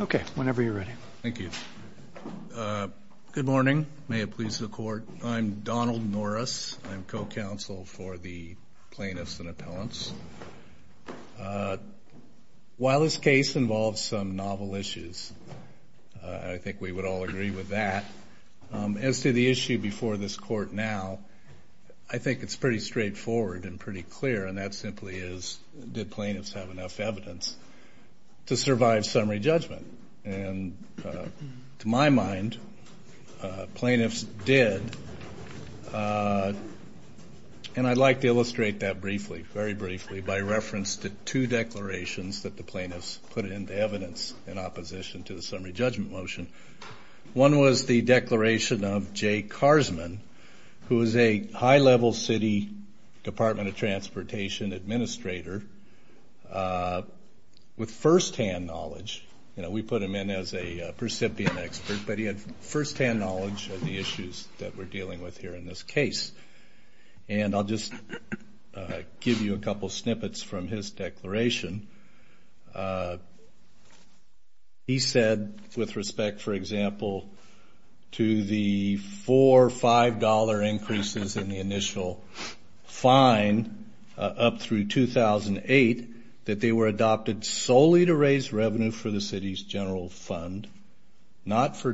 Okay, whenever you're ready. Thank you. Good morning. May it please the court. I'm Donald Norris. I'm co-counsel for the plaintiffs and appellants. While this case involves some As to the issue before this court now, I think it's pretty straightforward and pretty clear, and that simply is, did plaintiffs have enough evidence to survive summary judgment? And to my mind, plaintiffs did. And I'd like to illustrate that briefly, very briefly, by reference to two declarations that the plaintiffs put into evidence in opposition to the summary judgment motion. One was the declaration of Jay Carsman, who is a high-level city Department of Transportation administrator with firsthand knowledge. You know, we put him in as a example to the four or five dollar increases in the initial fine up through 2008, that they were adopted solely to raise revenue for the city's general fund, not for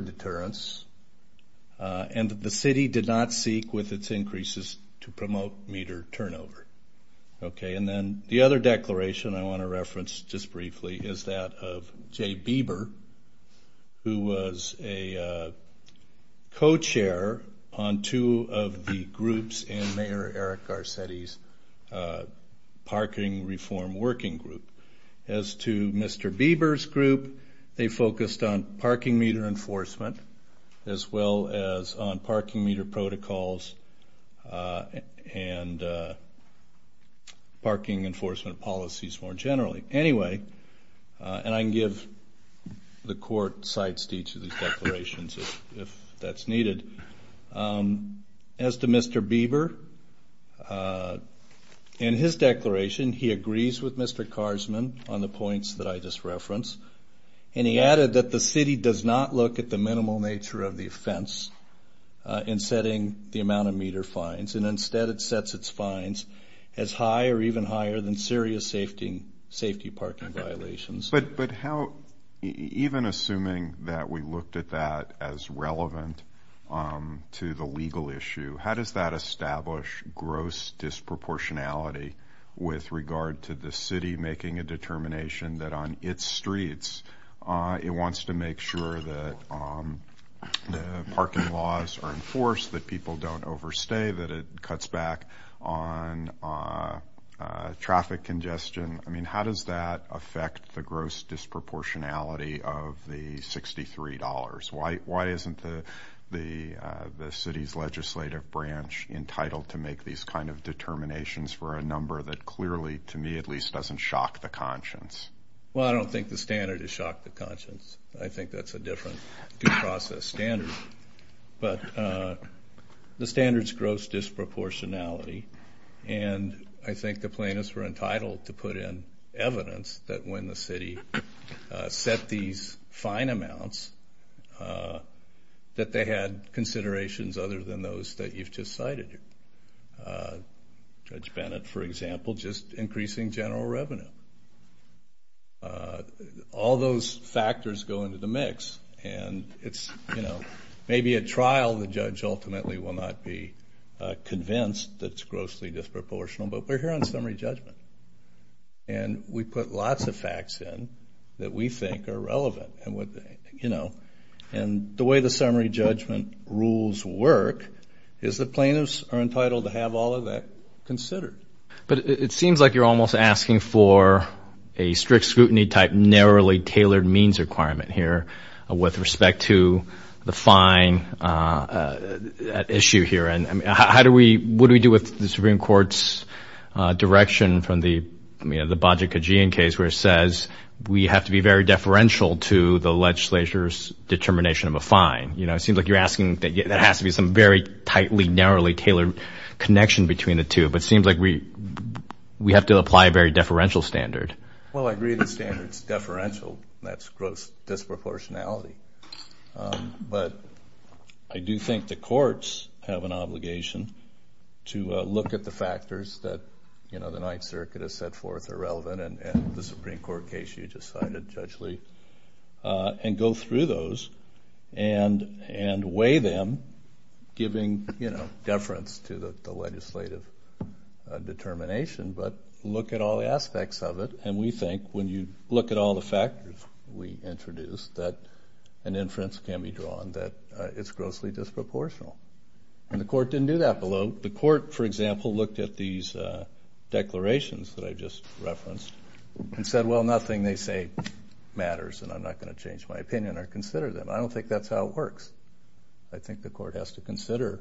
co-chair on two of the groups in Mayor Eric Garcetti's parking reform working group. As to Mr. Bieber's group, they focused on parking meter enforcement, as well as on parking meter protocols and parking enforcement policies more generally. Anyway, and I can give the court sites to each of these declarations if that's needed. As to Mr. Bieber, in his declaration, he agrees with Mr. Carsman on the points that I just referenced. And he added that the city does not look at the minimal nature of the offense in setting the amount of meter fines, and instead it sets its fines as high or even higher than serious safety parking violations. But how, even assuming that we looked at that as relevant to the legal issue, how does that establish gross disproportionality with regard to the city making a determination that on its streets it wants to make sure that parking laws are enforced, that people don't overstay, that it cuts back on traffic congestion? I mean, how does that affect the gross disproportionality of the $63? Why isn't the city's legislative branch entitled to make these kind of determinations for a number that clearly, to me at least, doesn't shock the conscience? Well, I don't think the standard has shocked the conscience. I think that's a different due process standard. But the standards gross disproportionality, and I think the plaintiffs were entitled to put in evidence that when the city set these fine amounts, that they had considerations other than those that you've just cited. Judge Bennett, for example, just increasing general revenue. All those factors go into the mix. And it's, you know, maybe at trial the judge ultimately will not be convinced that it's grossly disproportional, but we're here on summary judgment. And we put lots of facts in that we think are relevant. And the way the summary judgment rules work is the plaintiffs are entitled to have all of that considered. But it seems like you're almost asking for a strict scrutiny type narrowly tailored means requirement here with respect to the fine issue here. And how do we, what do we do with the Supreme Court's direction from the, you know, the Bajaj Kajian case where it says we have to be very deferential to the legislature's determination of a fine? You know, it seems like you're asking that there has to be some very tightly, narrowly tailored connection between the two. But it seems like we have to apply a very deferential standard. Well, I agree the standard's deferential. That's gross disproportionality. But I do think the courts have an obligation to look at the factors that, you know, the Ninth Circuit has set forth are relevant and the Supreme Court case you just cited, Judge Lee, and go through those and weigh them, giving, you know, deference to the legislative determination. But look at all the aspects of it and we think when you look at all the factors we introduced that an inference can be drawn that it's grossly disproportional. And the court didn't do that below. The court, for example, looked at these declarations that I just referenced and said, well, nothing they say matters and I'm not going to change my opinion or consider them. I don't think that's how it works. I think the court has to consider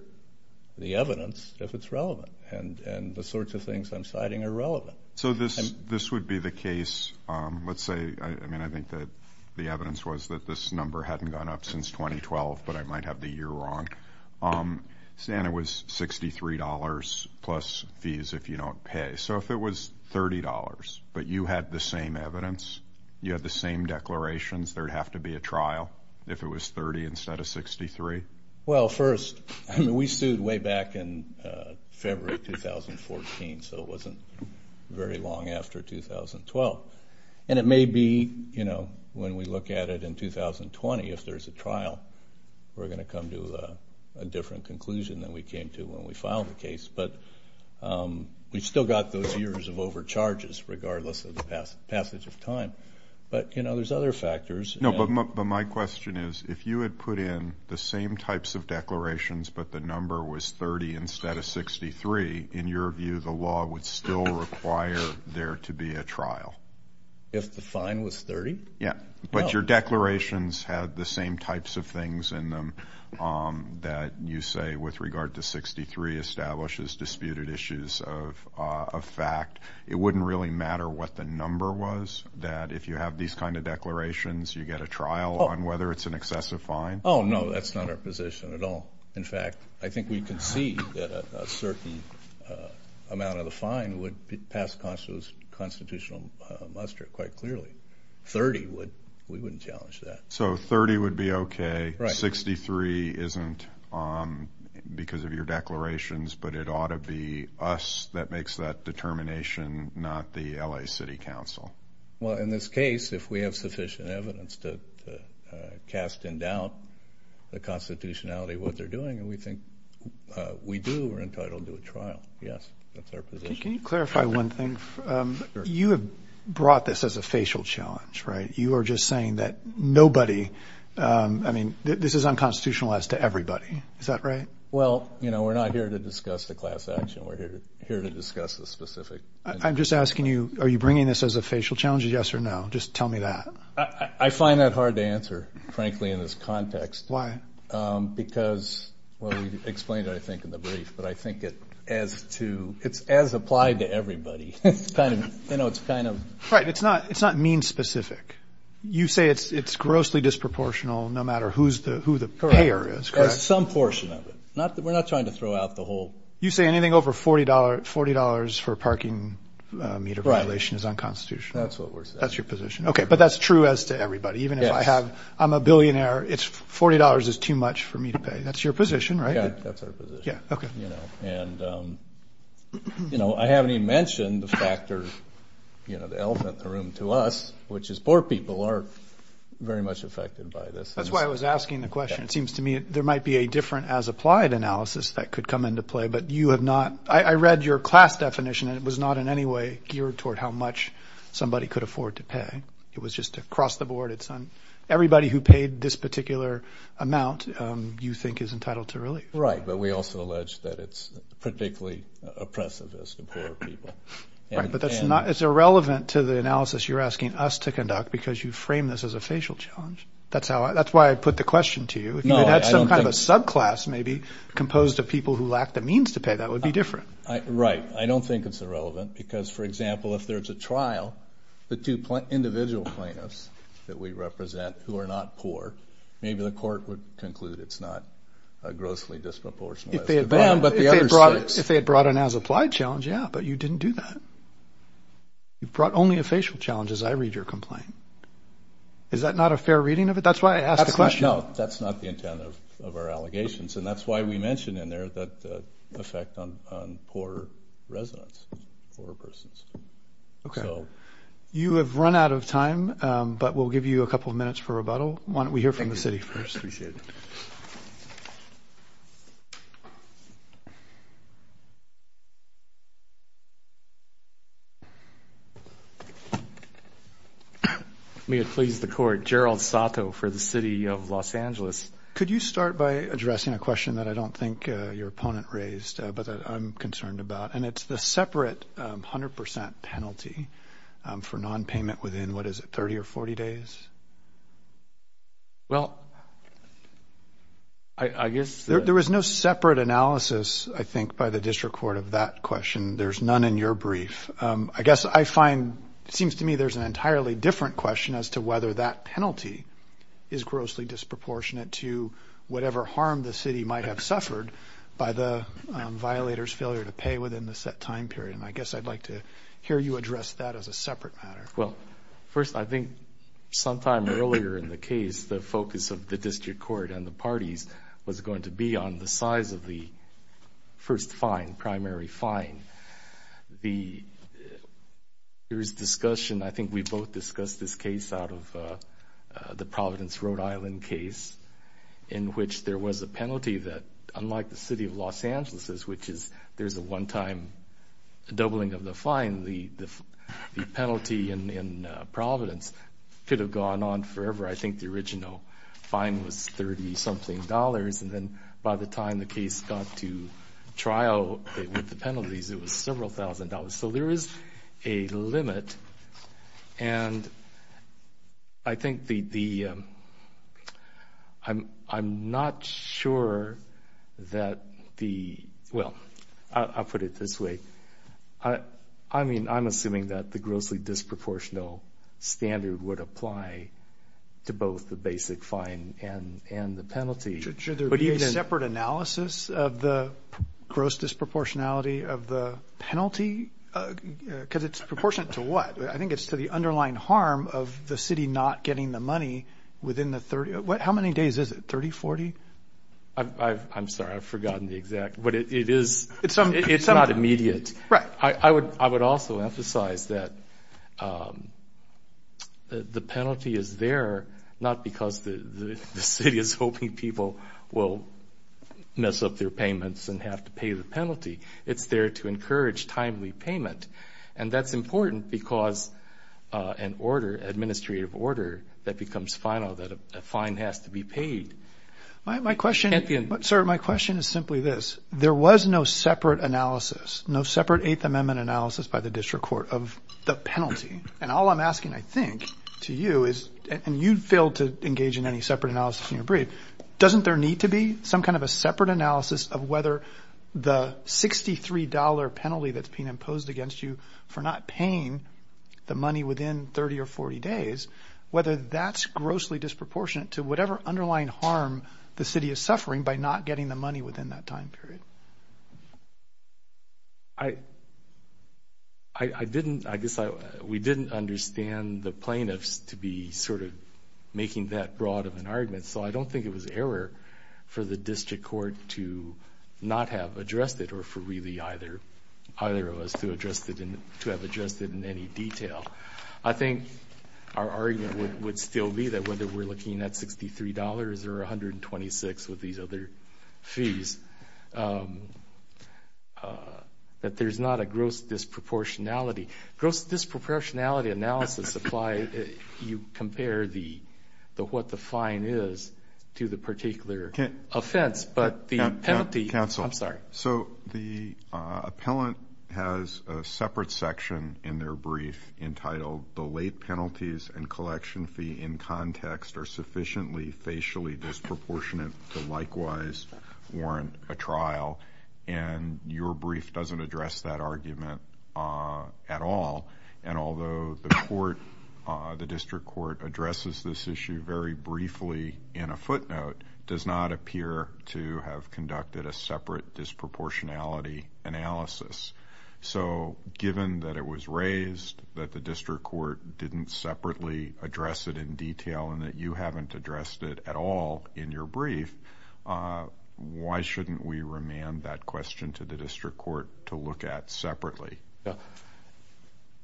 the evidence if it's relevant and the sorts of things I'm citing are relevant. So this would be the case, let's say, I mean, I think that the evidence was that this number hadn't gone up since 2012, but I might have the year wrong. Santa was $63 plus fees if you don't pay. So if it was $30 but you had the same evidence, you had the same declarations, there'd have to be a trial if it was 30 instead of 63? Well, first, I mean, we sued way back in February 2014, so it wasn't very long after 2012. And it may be, you know, when we look at it in 2020, if there's a trial, we're going to come to a different conclusion than we came to when we filed the case. But we still got those years of overcharges regardless of the passage of time. But, you know, there's other factors. No, but my question is, if you had put in the same types of declarations but the number was 30 instead of 63, in your view, the law would still require there to be a trial? If the fine was 30? Yeah, but your declarations had the same types of things in them that you say with regard to 63 establishes disputed issues of fact. It wouldn't really matter what the number was, that if you have these kinds of declarations, you get a trial on whether it's an excessive fine? Oh, no, that's not our position at all. In fact, I think we concede that a certain amount of the fine would pass constitutional muster quite clearly. 30, we wouldn't challenge that. So 30 would be okay, 63 isn't because of your declarations, but it ought to be us that makes that determination, not the L.A. City Council. Well, in this case, if we have sufficient evidence to cast in doubt the constitutionality of what they're doing and we think we do, we're entitled to a trial. Yes, that's our position. Can you clarify one thing? You have brought this as a facial challenge, right? You are just saying that nobody, I mean, this is unconstitutionalized to everybody. Is that right? Well, you know, we're not here to discuss the class action. We're here to discuss the specific. I'm just asking you, are you bringing this as a facial challenge? Yes or no? Just tell me that. I find that hard to answer, frankly, in this context. Why? Because, well, we explained it, I think, in the brief, but I think it as to it's as applied to everybody. It's kind of, you know, it's kind of right. It's not it's not mean specific. You say it's it's grossly disproportional no matter who's the who the payer is. Some portion of it, not that we're not trying to throw out the whole. You say anything over forty dollars, forty dollars for parking meter violation is unconstitutional. That's what that's your position. OK, but that's true as to everybody. Even if I have I'm a billionaire, it's forty dollars is too much for me to pay. That's your position, right? That's our position. Yeah. OK. And, you know, I haven't even mentioned the factors, you know, the elephant in the room to us, which is poor people are very much affected by this. That's why I was asking the question. It seems to me there might be a different as applied analysis that could come into play. But you have not. I read your class definition and it was not in any way geared toward how much somebody could afford to pay. It was just across the board. It's on everybody who paid this particular amount you think is entitled to really. Right. But we also allege that it's particularly oppressive as the poor people. But that's not it's irrelevant to the analysis you're asking us to conduct because you frame this as a facial challenge. That's how that's why I put the question to you. I don't have a subclass maybe composed of people who lack the means to pay. That would be different. Right. I don't think it's irrelevant because, for example, if there's a trial, the two individual plaintiffs that we represent who are not poor, maybe the court would conclude it's not grossly disproportionate. But if they had brought an as applied challenge, yeah, but you didn't do that. You brought only a facial challenge as I read your complaint. Is that not a fair reading of it? That's why I asked the question. No, that's not the intent of our allegations. And that's why we mentioned in there that the effect on poor residents, poor persons. OK, so you have run out of time, but we'll give you a couple of minutes for rebuttal. Why don't we hear from the city first? We should. May it please the court. Gerald Sato for the city of Los Angeles. Could you start by addressing a question that I don't think your opponent raised, but I'm concerned about. And it's the separate 100 percent penalty for nonpayment within, what is it, 30 or 40 days? Well, I guess there is no separate analysis, I think, by the district court of that question. There's none in your brief. I guess I find it seems to me there's an entirely different question as to whether that penalty is grossly disproportionate to whatever harm the city might have suffered by the violators failure to pay within the city. And I guess I'd like to hear you address that as a separate matter. Well, first, I think sometime earlier in the case, the focus of the district court and the parties was going to be on the size of the first fine, primary fine. There was discussion, I think we both discussed this case out of the Providence, Rhode Island case, in which there was a penalty that, unlike the city of Los Angeles, which is there's a one-time doubling of the fine, the penalty in Providence could have gone on forever. I think the original fine was $30-something. And then by the time the case got to trial with the penalties, it was several thousand dollars. So there is a limit. And I think the I'm not sure that the well, I'll put it this way. I mean, I'm assuming that the grossly disproportional standard would apply to both the basic fine and the penalty. Should there be a separate analysis of the gross disproportionality of the penalty? Because it's proportionate to what? I think it's to the underlying harm of the city not getting the money within the 30. How many days is it, 30, 40? I'm sorry. I've forgotten the exact. But it is. It's not immediate. Right. I would also emphasize that the penalty is there not because the city is hoping people will mess up their payments and have to pay the penalty. It's there to encourage timely payment. And that's important because an order, administrative order, that becomes final, that a fine has to be paid. My question, sir, my question is simply this. There was no separate analysis, no separate Eighth Amendment analysis by the district court of the penalty. And all I'm asking, I think, to you is, and you failed to engage in any separate analysis in your brief. Doesn't there need to be some kind of a separate analysis of whether the $63 penalty that's being imposed against you for not paying the money within 30 or 40 days, whether that's grossly disproportionate to whatever underlying harm the city is suffering by not getting the money within that time period? I didn't, I guess we didn't understand the plaintiffs to be sort of making that broad of an argument. So I don't think it was error for the district court to not have addressed it or for really either of us to have addressed it in any detail. I think our argument would still be that whether we're looking at $63 or 126 with these other fees, that there's not a gross disproportionality. Gross disproportionality analysis apply if you compare what the fine is to the particular offense. But the penalty, I'm sorry. So the appellant has a separate section in their brief entitled, the late penalties and collection fee in context are sufficiently facially disproportionate to likewise warrant a trial. And your brief doesn't address that argument at all. And although the court, the district court addresses this issue very briefly in a footnote, does not appear to have conducted a separate disproportionality analysis. So given that it was raised that the district court didn't separately address it in detail and that you haven't addressed it at all in your brief, why shouldn't we remand that question to the district court to look at separately?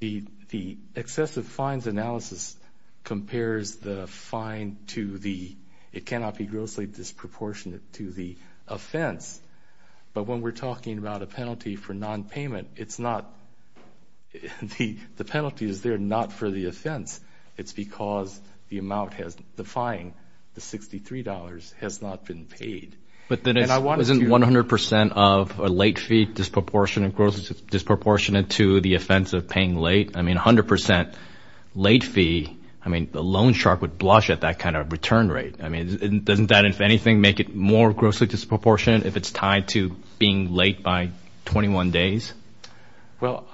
The excessive fines analysis compares the fine to the, it cannot be grossly disproportionate to the offense. But when we're talking about a penalty for nonpayment, it's not, the penalty is there not for the offense. It's because the amount has, the fine, the $63 has not been paid. But then isn't 100% of a late fee disproportionate to the offense of paying late? I mean, 100% late fee, I mean, the loan shark would blush at that kind of return rate. I mean, doesn't that, if anything, make it more grossly disproportionate if it's tied to being late by 21 days? Well,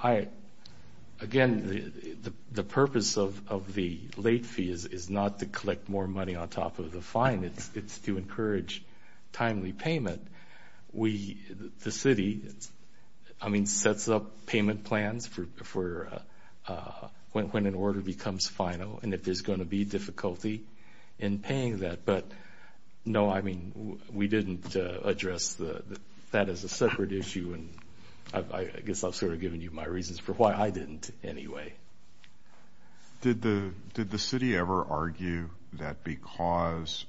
again, the purpose of the late fee is not to collect more money on top of the fine. It's to encourage timely payment. We, the city, I mean, sets up payment plans for when an order becomes final and if there's going to be difficulty in paying that. But, no, I mean, we didn't address that as a separate issue. And I guess I've sort of given you my reasons for why I didn't anyway. Did the city ever argue that because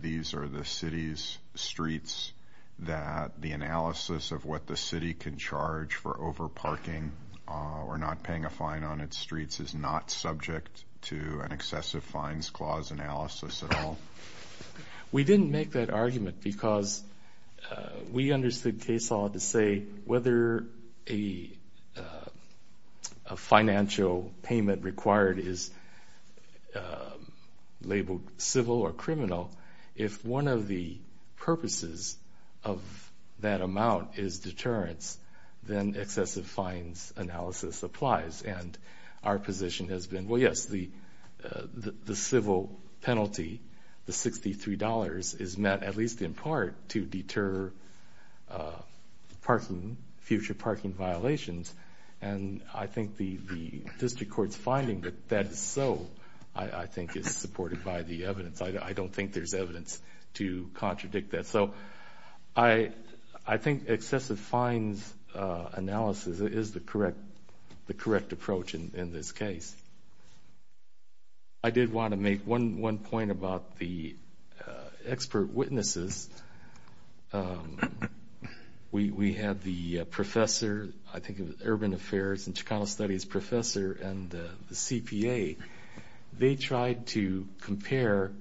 these are the city's streets that the analysis of what the city can charge for overparking or not paying a fine on its streets is not subject to an excessive fines clause analysis at all? We didn't make that argument because we understood case law to say whether a financial payment required is labeled civil or criminal. If one of the purposes of that amount is deterrence, then excessive fines analysis applies. And our position has been, well, yes, the civil penalty, the $63, is met at least in part to deter future parking violations. And I think the district court's finding that that is so, I think, is supported by the evidence. I don't think there's evidence to contradict that. So I think excessive fines analysis is the correct approach in this case. I did want to make one point about the expert witnesses. We had the professor, I think, of urban affairs and Chicano studies professor and the CPA. They tried to compare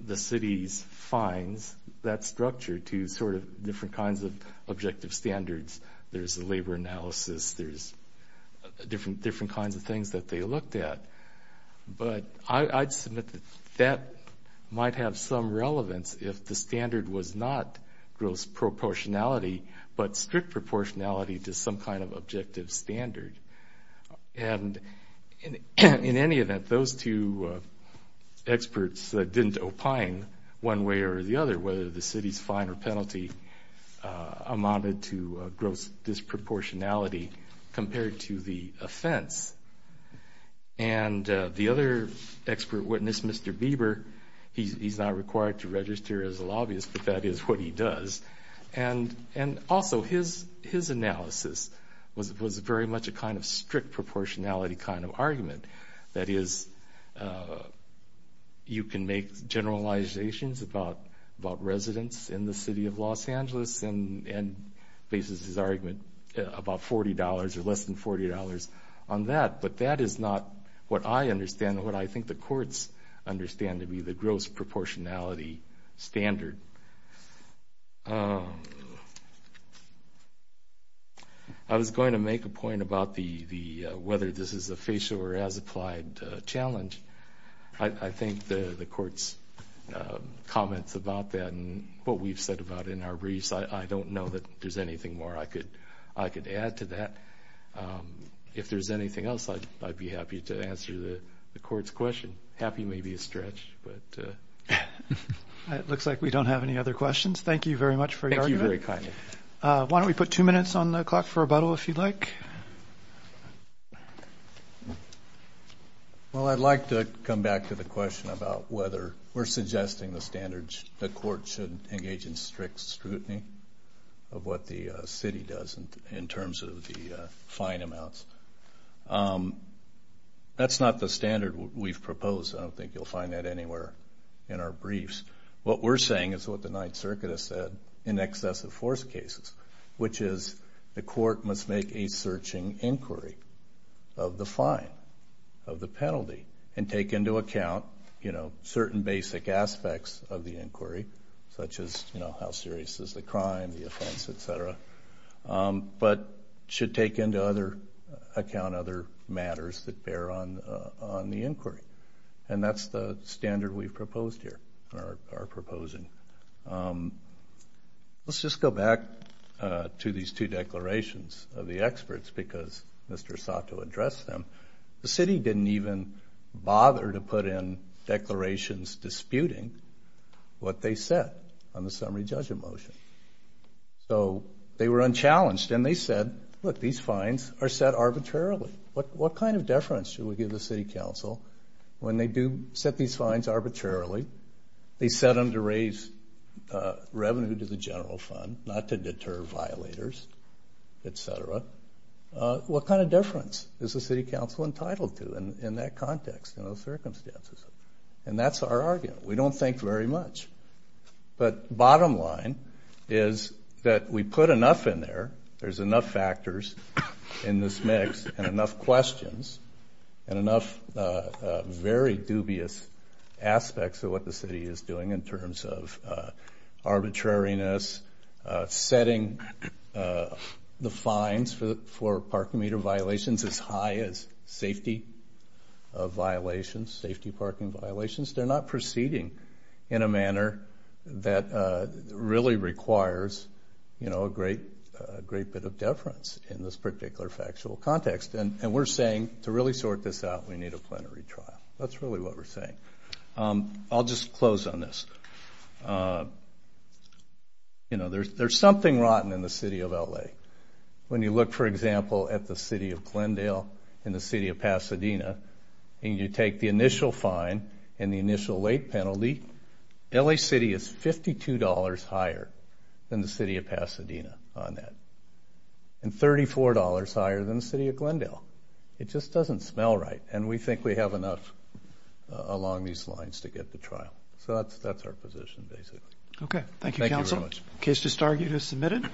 the city's fines, that structure, to sort of different kinds of objective standards. There's a labor analysis. There's different kinds of things that they looked at. But I'd submit that that might have some relevance if the standard was not gross proportionality but strict proportionality to some kind of objective standard. And in any event, those two experts didn't opine one way or the other, whether the city's fine or penalty amounted to gross disproportionality compared to the offense. And the other expert witness, Mr. Bieber, he's not required to register as a lobbyist, but that is what he does. And also his analysis was very much a kind of strict proportionality kind of argument. That is, you can make generalizations about residents in the city of Los Angeles and bases his argument about $40 or less than $40 on that. But that is not what I understand, what I think the courts understand to be the gross proportionality standard. I was going to make a point about whether this is a facial or as-applied challenge. I think the court's comments about that and what we've said about it in our briefs, I don't know that there's anything more I could add to that. If there's anything else, I'd be happy to answer the court's question. Happy may be a stretch, but... It looks like we don't have any other questions. Thank you very much for your argument. Thank you very kindly. Why don't we put two minutes on the clock for rebuttal, if you'd like. Well, I'd like to come back to the question about whether we're suggesting the standards, the court should engage in strict scrutiny of what the city does in terms of the fine amounts. That's not the standard we've proposed. I don't think you'll find that anywhere in our briefs. What we're saying is what the Ninth Circuit has said in excessive force cases, which is the court must make a searching inquiry of the fine, of the penalty, and take into account certain basic aspects of the inquiry, such as how serious is the crime, the offense, et cetera, but should take into account other matters that bear on the inquiry. And that's the standard we've proposed here, or are proposing. Let's just go back to these two declarations of the experts, because Mr. Sato addressed them. The city didn't even bother to put in declarations disputing what they said on the summary judgment motion. So they were unchallenged, and they said, look, these fines are set arbitrarily. What kind of deference should we give the city council when they do set these fines arbitrarily? They set them to raise revenue to the general fund, not to deter violators, et cetera. What kind of deference is the city council entitled to in that context, in those circumstances? And that's our argument. We don't think very much. But bottom line is that we put enough in there, there's enough factors in this mix, and enough questions, and enough very dubious aspects of what the city is doing in terms of arbitrariness, setting the fines for parking meter violations as high as safety violations, safety parking violations. They're not proceeding in a manner that really requires, you know, a great bit of deference in this particular factual context. And we're saying to really sort this out, we need a plenary trial. That's really what we're saying. I'll just close on this. You know, there's something rotten in the city of L.A. When you look, for example, at the city of Glendale and the city of Pasadena, and you take the initial fine and the initial late penalty, L.A. City is $52 higher than the city of Pasadena on that, and $34 higher than the city of Glendale. It just doesn't smell right, and we think we have enough along these lines to get the trial. So that's our position, basically. Okay. Thank you, counsel. Thank you very much. Case to start, you have submitted.